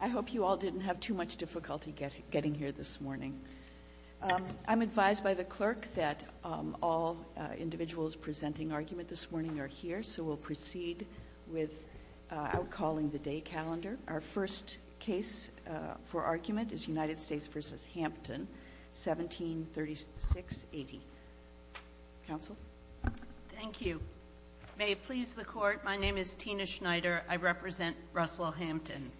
I hope you all didn't have too much difficulty getting here this morning. I'm advised by the clerk that all individuals presenting argument this morning are here, so we'll proceed with outcalling the day calendar. Our first case for argument is United States v. Hampton, 1736-80. Counsel? Thank you. May it please the court, my name is Tina Schneider. I represent Russell Hampton.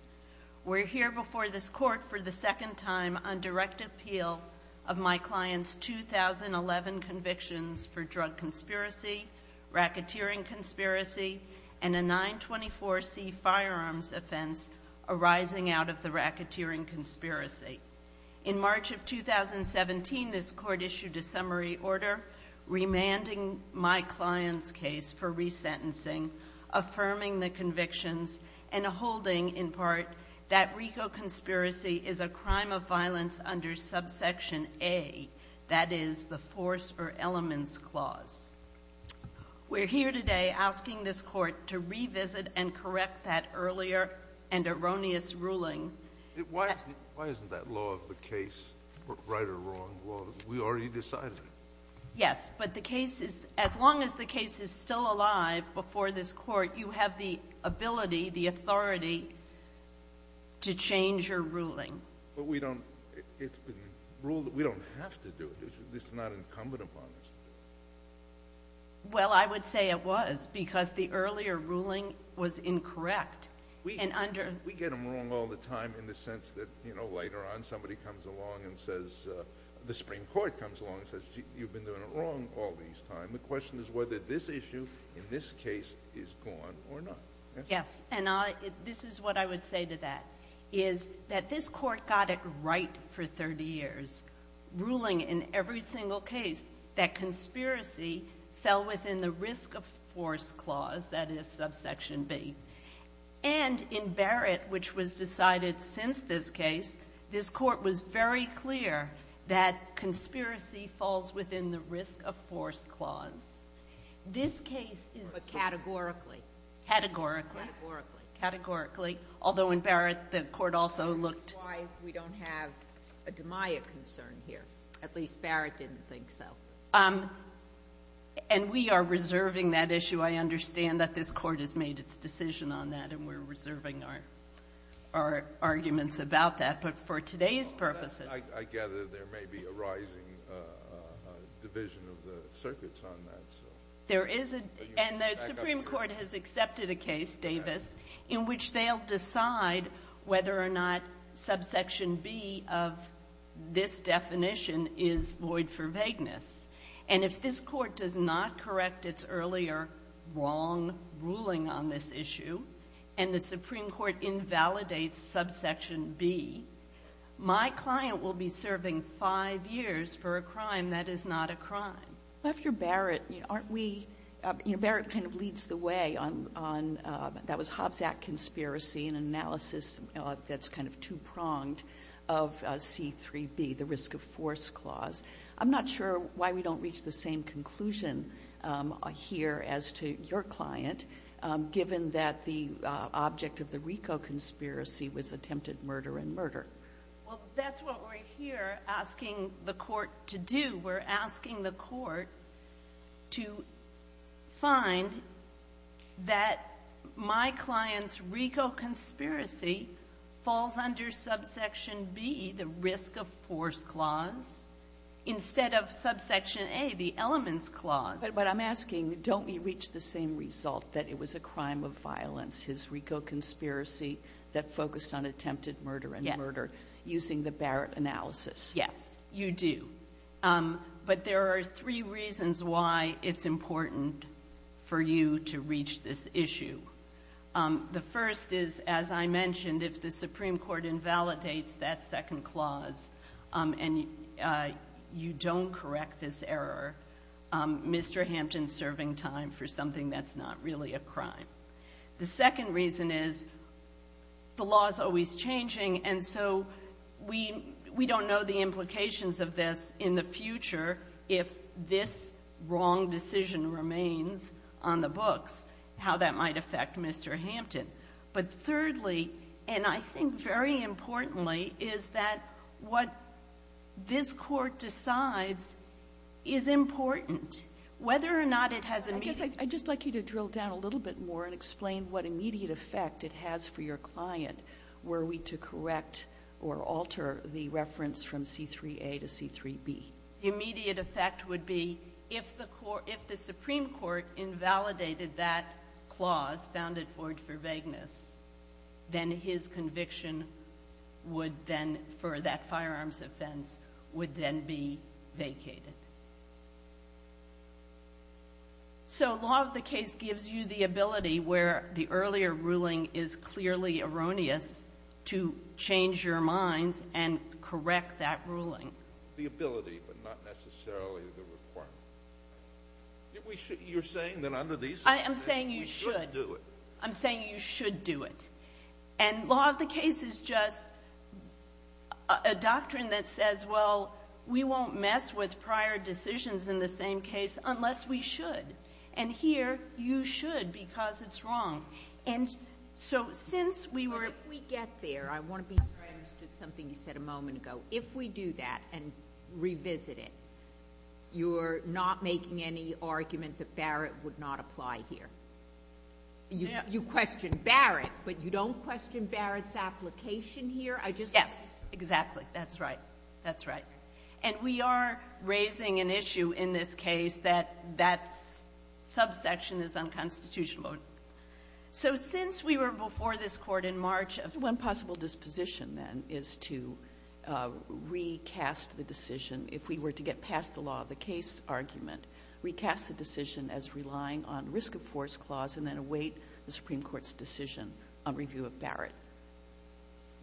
We're here before this court for the second time on direct appeal of my client's 2011 convictions for drug conspiracy, racketeering conspiracy, and a 924C firearms offense arising out of the racketeering conspiracy. In March of 2017, this court issued a summary order remanding my client's case for resentencing, affirming the convictions, and holding in part that RICO conspiracy is a crime of violence under subsection A, that is, the force or elements clause. We're here today asking this court to revisit and correct that earlier and erroneous ruling. Why isn't that law of the case right or wrong law? We already decided it. Yes, but the case is, as long as the case is still alive before this court, you have the ability, the authority to change your ruling. But we don't, it's been ruled that we don't have to do it. This is not incumbent upon us. Well, I would say it was, because the earlier ruling was incorrect. We get them wrong all the time in the sense that, you know, later on somebody comes along and says, the Supreme Court comes along and says, you've been doing it wrong all this time. The question is whether this issue in this case is gone or not. Yes, and this is what I would say to that, is that this court got it right for 30 years, ruling in every single case that conspiracy fell within the risk of force clause, that is, subsection B. And in Barrett, which was decided since this case, this court was very clear that conspiracy falls within the risk of force clause. This case is a categorically. Categorically. Categorically. Categorically, although in Barrett the court also looked. That's why we don't have a DeMaia concern here. At least Barrett didn't think so. And we are reserving that issue. I understand that this Court has made its decision on that, and we're reserving our arguments about that. But for today's purposes. I gather there may be a rising division of the circuits on that. And the Supreme Court has accepted a case, Davis, in which they'll decide whether or not subsection B of this definition is void for vagueness. And if this Court does not correct its earlier wrong ruling on this issue, and the Supreme Court invalidates subsection B, my client will be serving 5 years for a crime that is not a crime. After Barrett, aren't we, you know, Barrett kind of leads the way on, that was Hobbs Act conspiracy, an analysis that's kind of two-pronged of C-3B, the risk of force clause. I'm not sure why we don't reach the same conclusion here as to your client, given that the object of the RICO conspiracy was attempted murder and murder. Well, that's what we're here asking the Court to do. We're asking the Court to find that my client's RICO conspiracy falls under subsection B, the risk of force clause, instead of subsection A, the elements clause. But I'm asking, don't we reach the same result that it was a crime of violence, his RICO conspiracy that focused on attempted murder and murder, using the Barrett analysis? Yes, you do. But there are three reasons why it's important for you to reach this issue. The first is, as I mentioned, if the Supreme Court invalidates that second clause and you don't correct this error, Mr. Hampton's serving time for something that's not really a crime. The second reason is, the law is always changing, and so we don't know the implications of this in the future if this wrong decision remains on the books, how that might affect Mr. Hampton. But thirdly, and I think very importantly, is that what this Court decides is important, whether or not it has immediate impact. I'd just like you to drill down a little bit more and explain what immediate effect it has for your client were we to correct or alter the reference from C-3A to C-3B. The immediate effect would be if the Supreme Court invalidated that clause founded for vagueness, then his conviction would then, for that firearms offense, would then be vacated. So law of the case gives you the ability where the earlier ruling is clearly erroneous to change your minds and correct that ruling. The ability, but not necessarily the requirement. You're saying that under these circumstances, you should do it. I am saying you should. I'm saying you should do it. And law of the case is just a doctrine that says, well, we won't mess with prior decisions in the same case unless we should. And here you should because it's wrong. But if we get there, I want to be sure I understood something you said a moment ago. If we do that and revisit it, you're not making any argument that Barrett would not apply here. You question Barrett, but you don't question Barrett's application here? Yes, exactly. That's right. That's right. And we are raising an issue in this case that that subsection is unconstitutional. So since we were before this Court in March, one possible disposition, then, is to recast the decision if we were to get past the law of the case argument, recast the decision as relying on risk of force clause and then await the Supreme Court's decision on review of Barrett.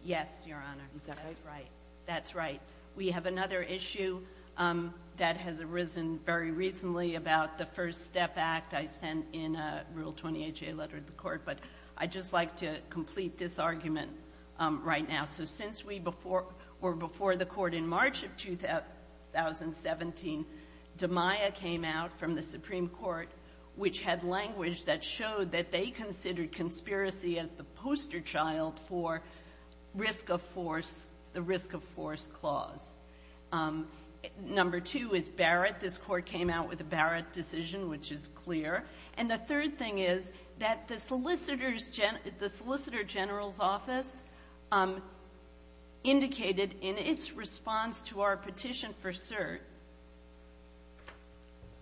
Yes, Your Honor. Is that right? That's right. We have another issue that has arisen very recently about the First Step Act. I sent in a Rule 20HA letter to the Court, but I'd just like to complete this argument right now. So since we were before the Court in March of 2017, DMIA came out from the Supreme Court, which had language that showed that they considered conspiracy as the poster child for the risk of force clause. Number two is Barrett. This Court came out with a Barrett decision, which is clear. And the third thing is that the Solicitor General's Office indicated in its response to our petition for cert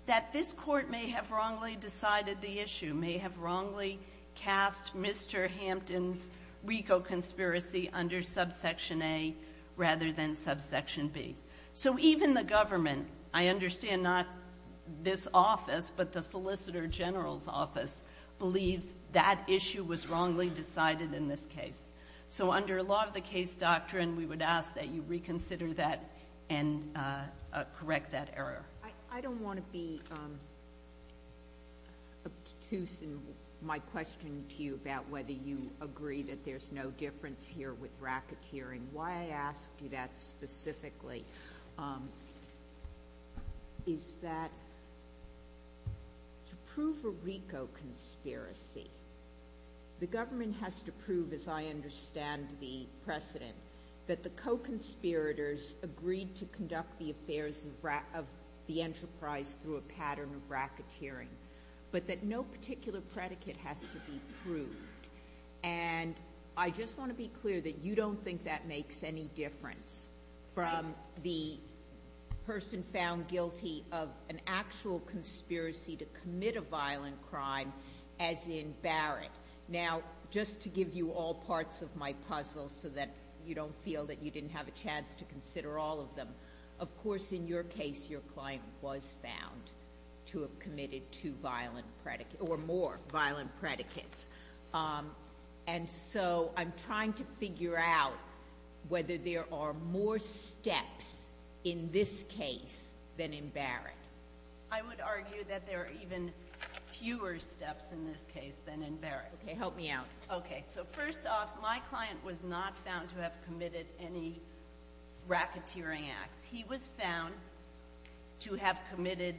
that this Court may have wrongly decided the issue, may have wrongly cast Mr. Hampton's RICO conspiracy under subsection A rather than subsection B. So even the government, I understand not this office, but the Solicitor General's Office, believes that issue was wrongly decided in this case. So under law of the case doctrine, we would ask that you reconsider that and correct that error. I don't want to be obtuse in my question to you about whether you agree that there's no difference here with racketeering. Why I asked you that specifically is that to prove a RICO conspiracy, the government has to prove, as I understand the precedent, that the co-conspirators agreed to conduct the affairs of the enterprise through a pattern of racketeering, but that no particular predicate has to be proved. And I just want to be clear that you don't think that makes any difference from the person found guilty of an actual conspiracy to commit a violent crime as in Barrett. Now, just to give you all parts of my puzzle so that you don't feel that you didn't have a chance to consider all of them, of course, in your case, your client was found to have committed two violent, or more violent predicates. And so I'm trying to figure out whether there are more steps in this case than in Barrett. I would argue that there are even fewer steps in this case than in Barrett. Okay, help me out. Okay, so first off, my client was not found to have committed any racketeering acts. He was found to have committed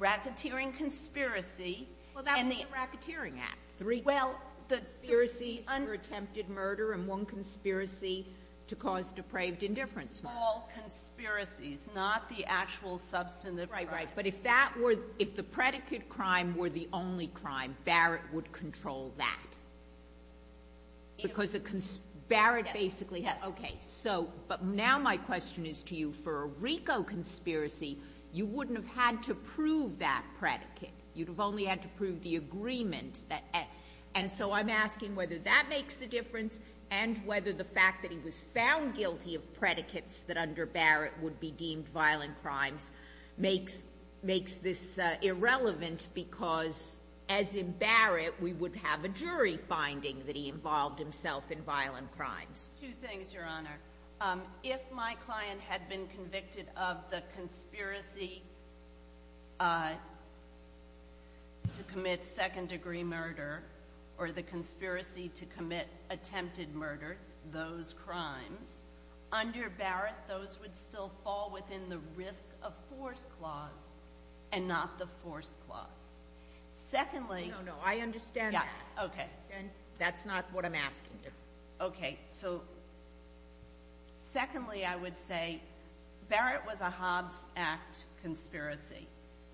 racketeering conspiracy. Well, that was a racketeering act. Well, the conspiracies were attempted murder and one conspiracy to cause depraved indifference. All conspiracies, not the actual substantive crime. Right, right. But if that were, if the predicate crime were the only crime, Barrett would control that. Because Barrett basically has. Yes. Okay, so, but now my question is to you, for a RICO conspiracy, you wouldn't have had to prove that predicate. You'd have only had to prove the agreement. And so I'm asking whether that makes a difference and whether the fact that he was found guilty of predicates that under Barrett would be deemed violent crimes makes this irrelevant because as in Barrett, we would have a jury finding that he involved himself in violent crimes. Two things, Your Honor. If my client had been convicted of the conspiracy to commit second degree murder or the conspiracy to commit attempted murder, those crimes, under Barrett, those would still fall within the risk of force clause and not the force clause. Secondly. No, no, I understand that. Yes, okay. And that's not what I'm asking you. Okay, so secondly I would say Barrett was a Hobbs Act conspiracy.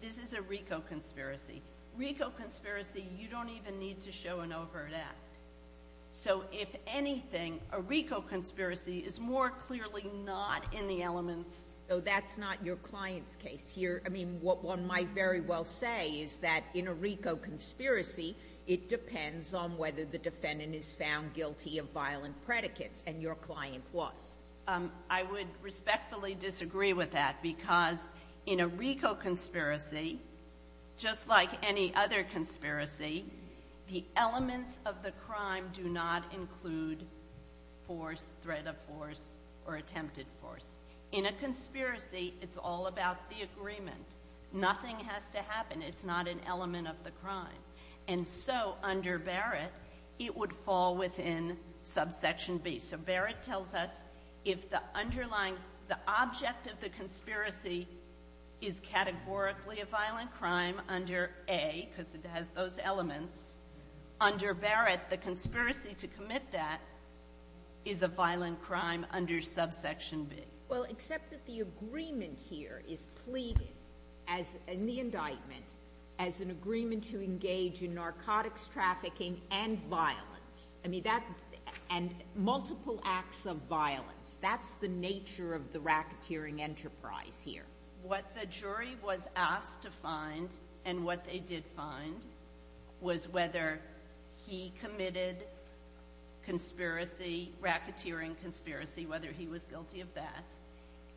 This is a RICO conspiracy. RICO conspiracy, you don't even need to show an overt act. So if anything, a RICO conspiracy is more clearly not in the elements. So that's not your client's case here. I mean, what one might very well say is that in a RICO conspiracy, it depends on whether the defendant is found guilty of violent predicates and your client was. I would respectfully disagree with that because in a RICO conspiracy, just like any other conspiracy, the elements of the crime do not include force, threat of force, or attempted force. In a conspiracy, it's all about the agreement. Nothing has to happen. It's not an element of the crime. And so under Barrett, it would fall within subsection B. So Barrett tells us if the underlying, the object of the conspiracy is categorically a violent crime under A, because it has those elements, under Barrett, the conspiracy to commit that is a violent crime under subsection B. Well, except that the agreement here is pleaded in the indictment as an agreement to engage in narcotics trafficking and violence. And multiple acts of violence. That's the nature of the racketeering enterprise here. What the jury was asked to find and what they did find was whether he committed conspiracy, racketeering conspiracy, whether he was guilty of that.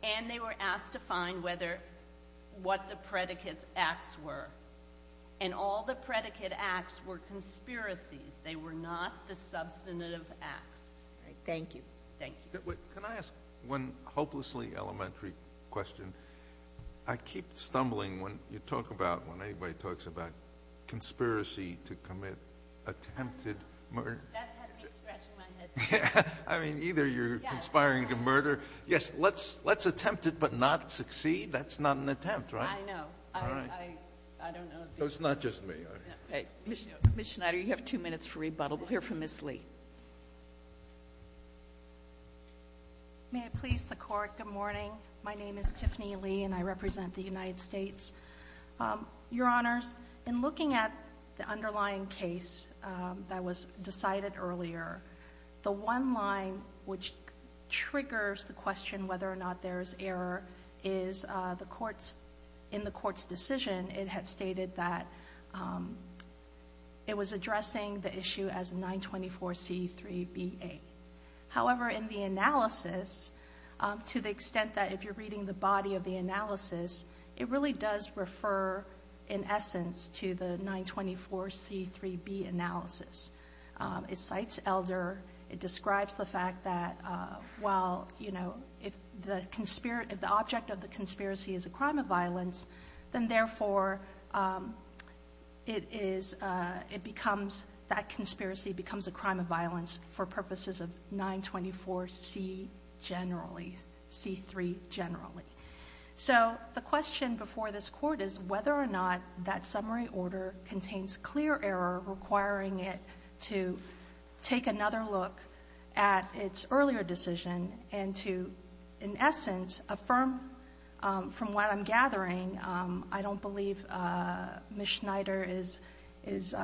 And they were asked to find what the predicate acts were. And all the predicate acts were conspiracies. They were not the substantive acts. Thank you. Thank you. Can I ask one hopelessly elementary question? I keep stumbling when you talk about, when anybody talks about conspiracy to commit attempted murder. That had me scratching my head. I mean, either you're conspiring to murder. Yes, let's attempt it but not succeed. That's not an attempt, right? I know. All right. I don't know. So it's not just me. Ms. Schneider, you have two minutes for rebuttal. We'll hear from Ms. Lee. May I please the Court? Good morning. My name is Tiffany Lee and I represent the United States. Your Honors, in looking at the underlying case that was decided earlier, the one line which triggers the question whether or not there is error in the Court's decision, it had stated that it was addressing the issue as 924C3BA. However, in the analysis, to the extent that if you're reading the body of the analysis, it really does refer in essence to the 924C3B analysis. It cites Elder. It describes the fact that, well, you know, if the object of the conspiracy is a crime of violence, then therefore it becomes, that conspiracy becomes a crime of violence for purposes of 924C3 generally. So the question before this Court is whether or not that summary order contains clear error requiring it to take another look at its earlier decision and to, in essence, affirm from what I'm gathering, I don't believe Ms. Schneider is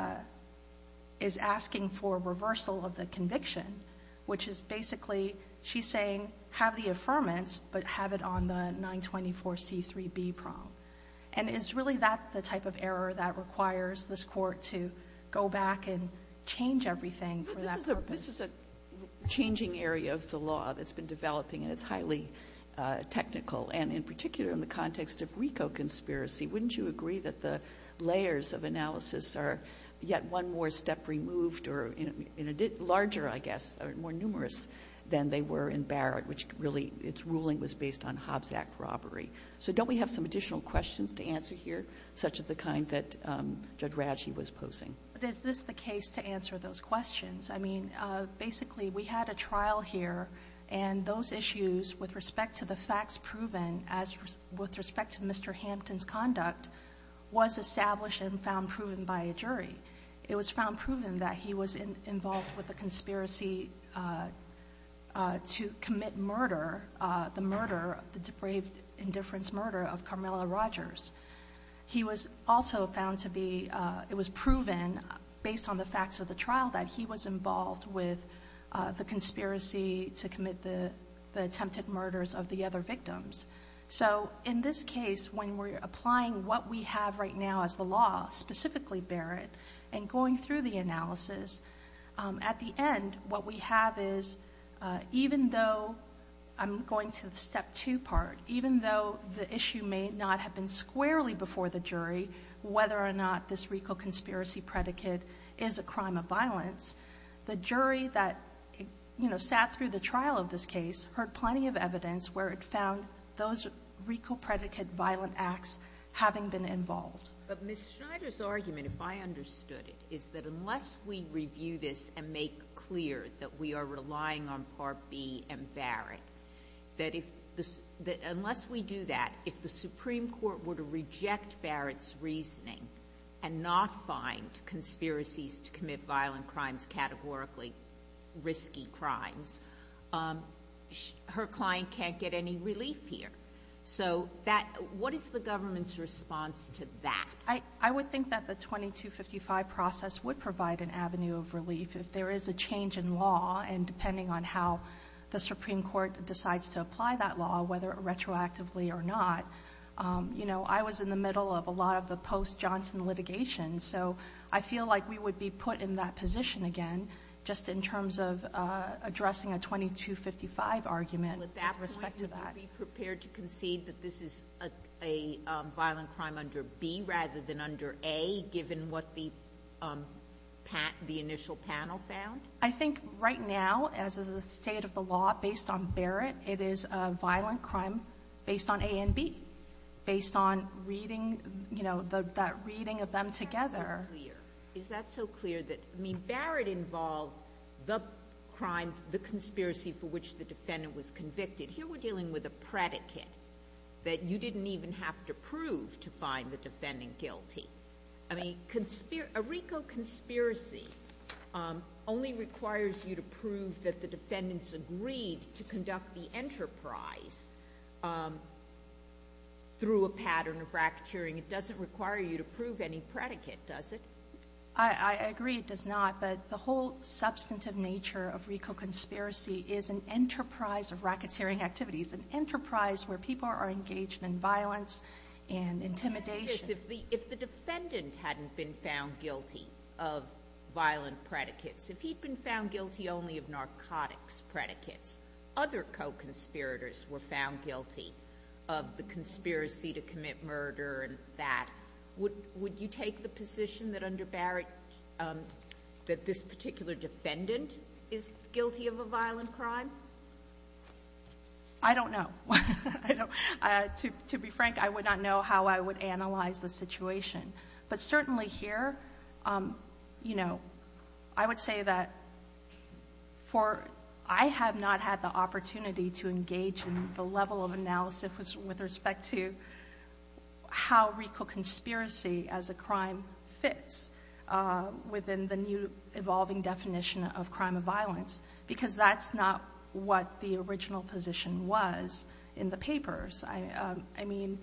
asking for reversal of the conviction, which is basically she's saying have the affirmance, but have it on the 924C3B prong. And is really that the type of error that requires this Court to go back and change everything for that purpose? But this is a changing area of the law that's been developing, and it's highly technical. And in particular in the context of RICO conspiracy, wouldn't you agree that the layers of analysis are yet one more step removed or in a larger, I guess, more numerous than they were in Barrett, which really its ruling was based on Hobbs Act robbery? So don't we have some additional questions to answer here, such as the kind that Judge Radshee was posing? But is this the case to answer those questions? I mean, basically we had a trial here, and those issues with respect to the facts proven as with respect to Mr. Hampton's conduct was established and found proven by a jury. It was found proven that he was involved with a conspiracy to commit murder, the murder, the depraved indifference murder of Carmela Rogers. He was also found to be, it was proven based on the facts of the trial, that he was involved with the conspiracy to commit the attempted murders of the other victims. So in this case, when we're applying what we have right now as the law, specifically Barrett, and going through the analysis, at the end what we have is, even though I'm going to the step two part, even though the issue may not have been squarely before the jury, whether or not this RICO conspiracy predicate is a crime of violence, the jury that sat through the trial of this case heard plenty of evidence where it found those RICO predicate violent acts having been involved. But Ms. Schneider's argument, if I understood it, is that unless we review this and make clear that we are relying on Part B and Barrett, that unless we do that, if the Supreme Court were to reject Barrett's reasoning and not find conspiracies to commit violent crimes categorically risky crimes, her client can't get any relief here. So what is the government's response to that? I would think that the 2255 process would provide an avenue of relief. If there is a change in law, and depending on how the Supreme Court decides to apply that law, whether retroactively or not, I was in the middle of a lot of the post-Johnson litigation, so I feel like we would be put in that position again, just in terms of addressing a 2255 argument with respect to that. Are you prepared to concede that this is a violent crime under B rather than under A, given what the initial panel found? I think right now, as of the state of the law, based on Barrett, it is a violent crime based on A and B, based on reading, you know, that reading of them together. Is that so clear? I mean, Barrett involved the crime, the conspiracy for which the defendant was convicted. Here we're dealing with a predicate that you didn't even have to prove to find the defendant guilty. I mean, a RICO conspiracy only requires you to prove that the defendants agreed to conduct the enterprise through a pattern of racketeering. It doesn't require you to prove any predicate, does it? I agree it does not, but the whole substantive nature of RICO conspiracy is an enterprise of racketeering activities, an enterprise where people are engaged in violence and intimidation. If the defendant hadn't been found guilty of violent predicates, if he'd been found guilty only of narcotics predicates, other co-conspirators were found guilty of the conspiracy to commit murder and that, would you take the position that under Barrett, that this particular defendant is guilty of a violent crime? I don't know. To be frank, I would not know how I would analyze the situation. But certainly here, you know, I would say that I have not had the opportunity to engage in the level of analysis with respect to how RICO conspiracy as a crime fits within the new evolving definition of crime of violence, because that's not what the original position was in the papers. I mean,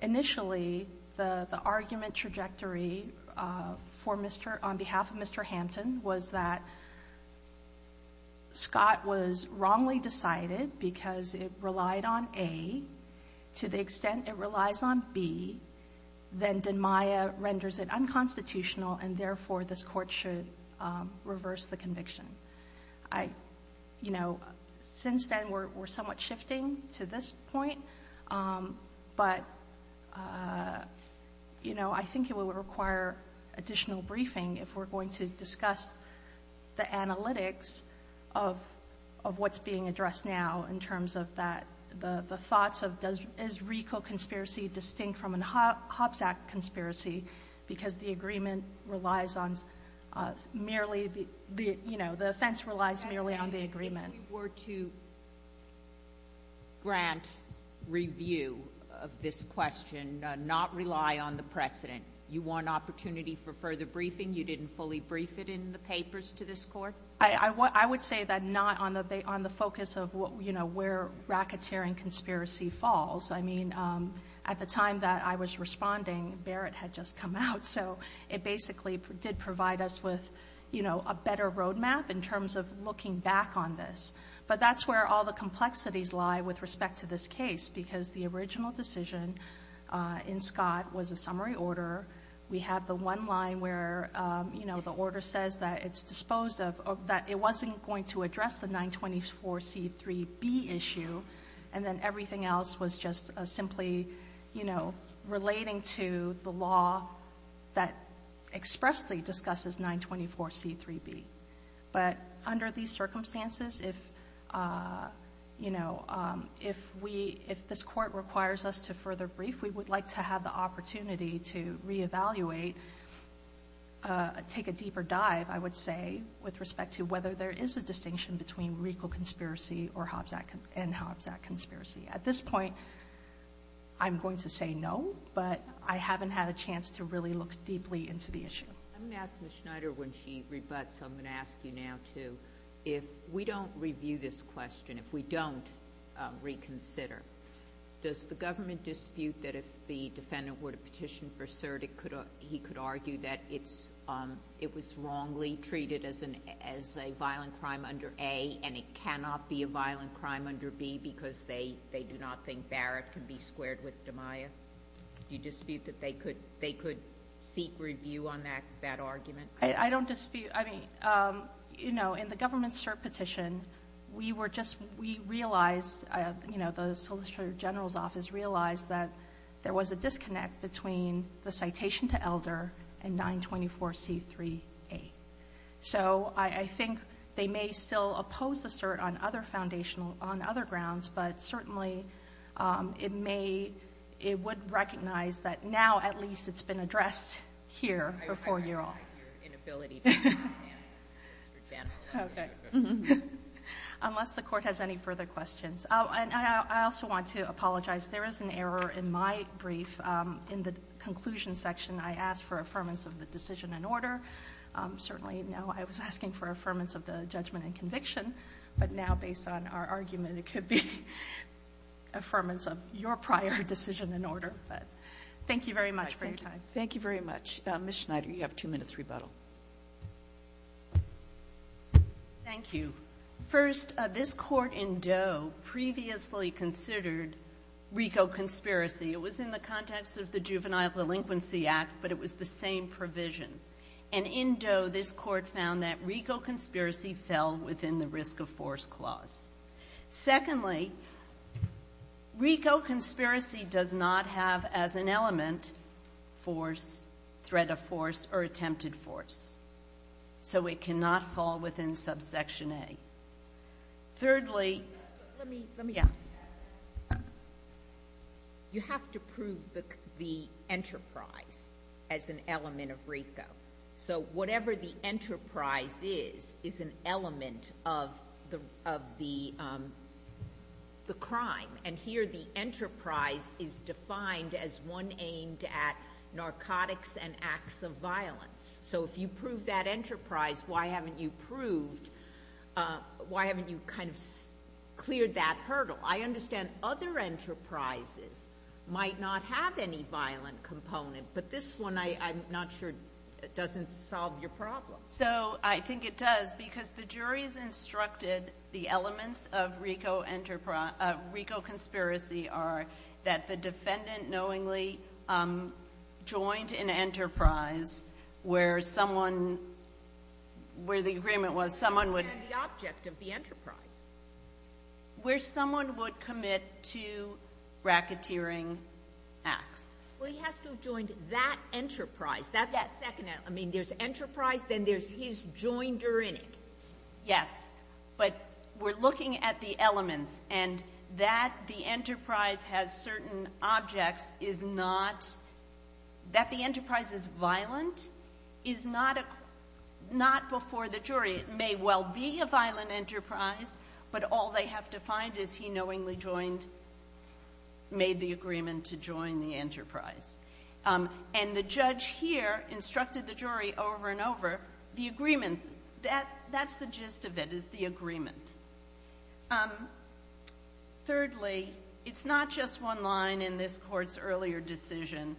initially, the argument trajectory on behalf of Mr. Hampton was that Scott was wrongly decided because it relied on A. To the extent it relies on B, then DENMAIA renders it unconstitutional and therefore this court should reverse the conviction. I, you know, since then, we're somewhat shifting to this point. But, you know, I think it would require additional briefing if we're going to discuss the analytics of what's being addressed now in terms of that, the thoughts of is RICO conspiracy distinct from a Hobbs Act conspiracy, because the agreement relies on merely the, you know, the offense relies merely on the agreement. If you were to grant review of this question, not rely on the precedent, you want opportunity for further briefing, you didn't fully brief it in the papers to this court? I would say that not on the focus of what, you know, where racketeering conspiracy falls. I mean, at the time that I was responding, Barrett had just come out. So it basically did provide us with, you know, a better roadmap in terms of looking back on this. But that's where all the complexities lie with respect to this case, because the original decision in Scott was a summary order. We have the one line where, you know, the order says that it's disposed of, that it wasn't going to address the 924C3B issue, and then everything else was just simply, you know, relating to the law that expressly discusses 924C3B. But under these circumstances, if, you know, if this court requires us to further brief, if we would like to have the opportunity to reevaluate, take a deeper dive, I would say, with respect to whether there is a distinction between Riegel conspiracy and Hobbs Act conspiracy. At this point, I'm going to say no, but I haven't had a chance to really look deeply into the issue. I'm going to ask Ms. Schneider when she rebuts, I'm going to ask you now too, if we don't review this question, if we don't reconsider, does the government dispute that if the defendant were to petition for cert, he could argue that it was wrongly treated as a violent crime under A, and it cannot be a violent crime under B, because they do not think Barrett can be squared with DiMaia? Do you dispute that they could seek review on that argument? I don't dispute. I mean, you know, in the government cert petition, we realized, you know, the Solicitor General's office realized that there was a disconnect between the citation to Elder and 924C3A. So I think they may still oppose the cert on other grounds, but certainly it would recognize that now at least it's been addressed here before you all. Okay. Unless the Court has any further questions. And I also want to apologize. There is an error in my brief in the conclusion section. I asked for affirmance of the decision in order. Certainly now I was asking for affirmance of the judgment and conviction, but now based on our argument, it could be affirmance of your prior decision in order. But thank you very much for your time. Thank you very much. Ms. Schneider, you have two minutes rebuttal. Thank you. First, this Court in Doe previously considered RICO conspiracy. It was in the context of the Juvenile Delinquency Act, but it was the same provision. And in Doe, this Court found that RICO conspiracy fell within the risk of force clause. Secondly, RICO conspiracy does not have as an element force, threat of force, or attempted force. So it cannot fall within subsection A. Thirdly, you have to prove the enterprise as an element of RICO. So whatever the enterprise is, is an element of the crime. And here the enterprise is defined as one aimed at narcotics and acts of violence. So if you prove that enterprise, why haven't you proved, why haven't you kind of cleared that hurdle? I understand other enterprises might not have any violent component, but this one I'm not sure doesn't solve your problem. So I think it does, because the jury's instructed the elements of RICO conspiracy are that the defendant knowingly joined an enterprise where someone, where the agreement was someone would. And the object of the enterprise. Where someone would commit two racketeering acts. Well, he has to have joined that enterprise. Yes. I mean, there's enterprise, then there's his joinder in it. Yes. But we're looking at the elements and that the enterprise has certain objects is not, that the enterprise is violent is not before the jury. It may well be a violent enterprise, but all they have to find is he knowingly joined, made the agreement to join the enterprise. And the judge here instructed the jury over and over the agreement that that's the gist of it is the agreement. Thirdly, it's not just one line in this court's earlier decision.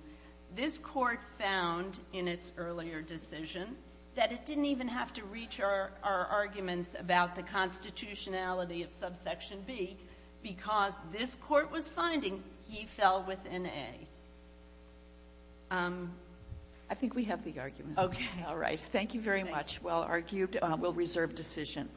This court found in its earlier decision that it didn't even have to reach our arguments about the constitutionality of subsection B because this court was finding he fell within A. I think we have the argument. Okay. All right. Thank you very much. Well argued. We'll reserve decision.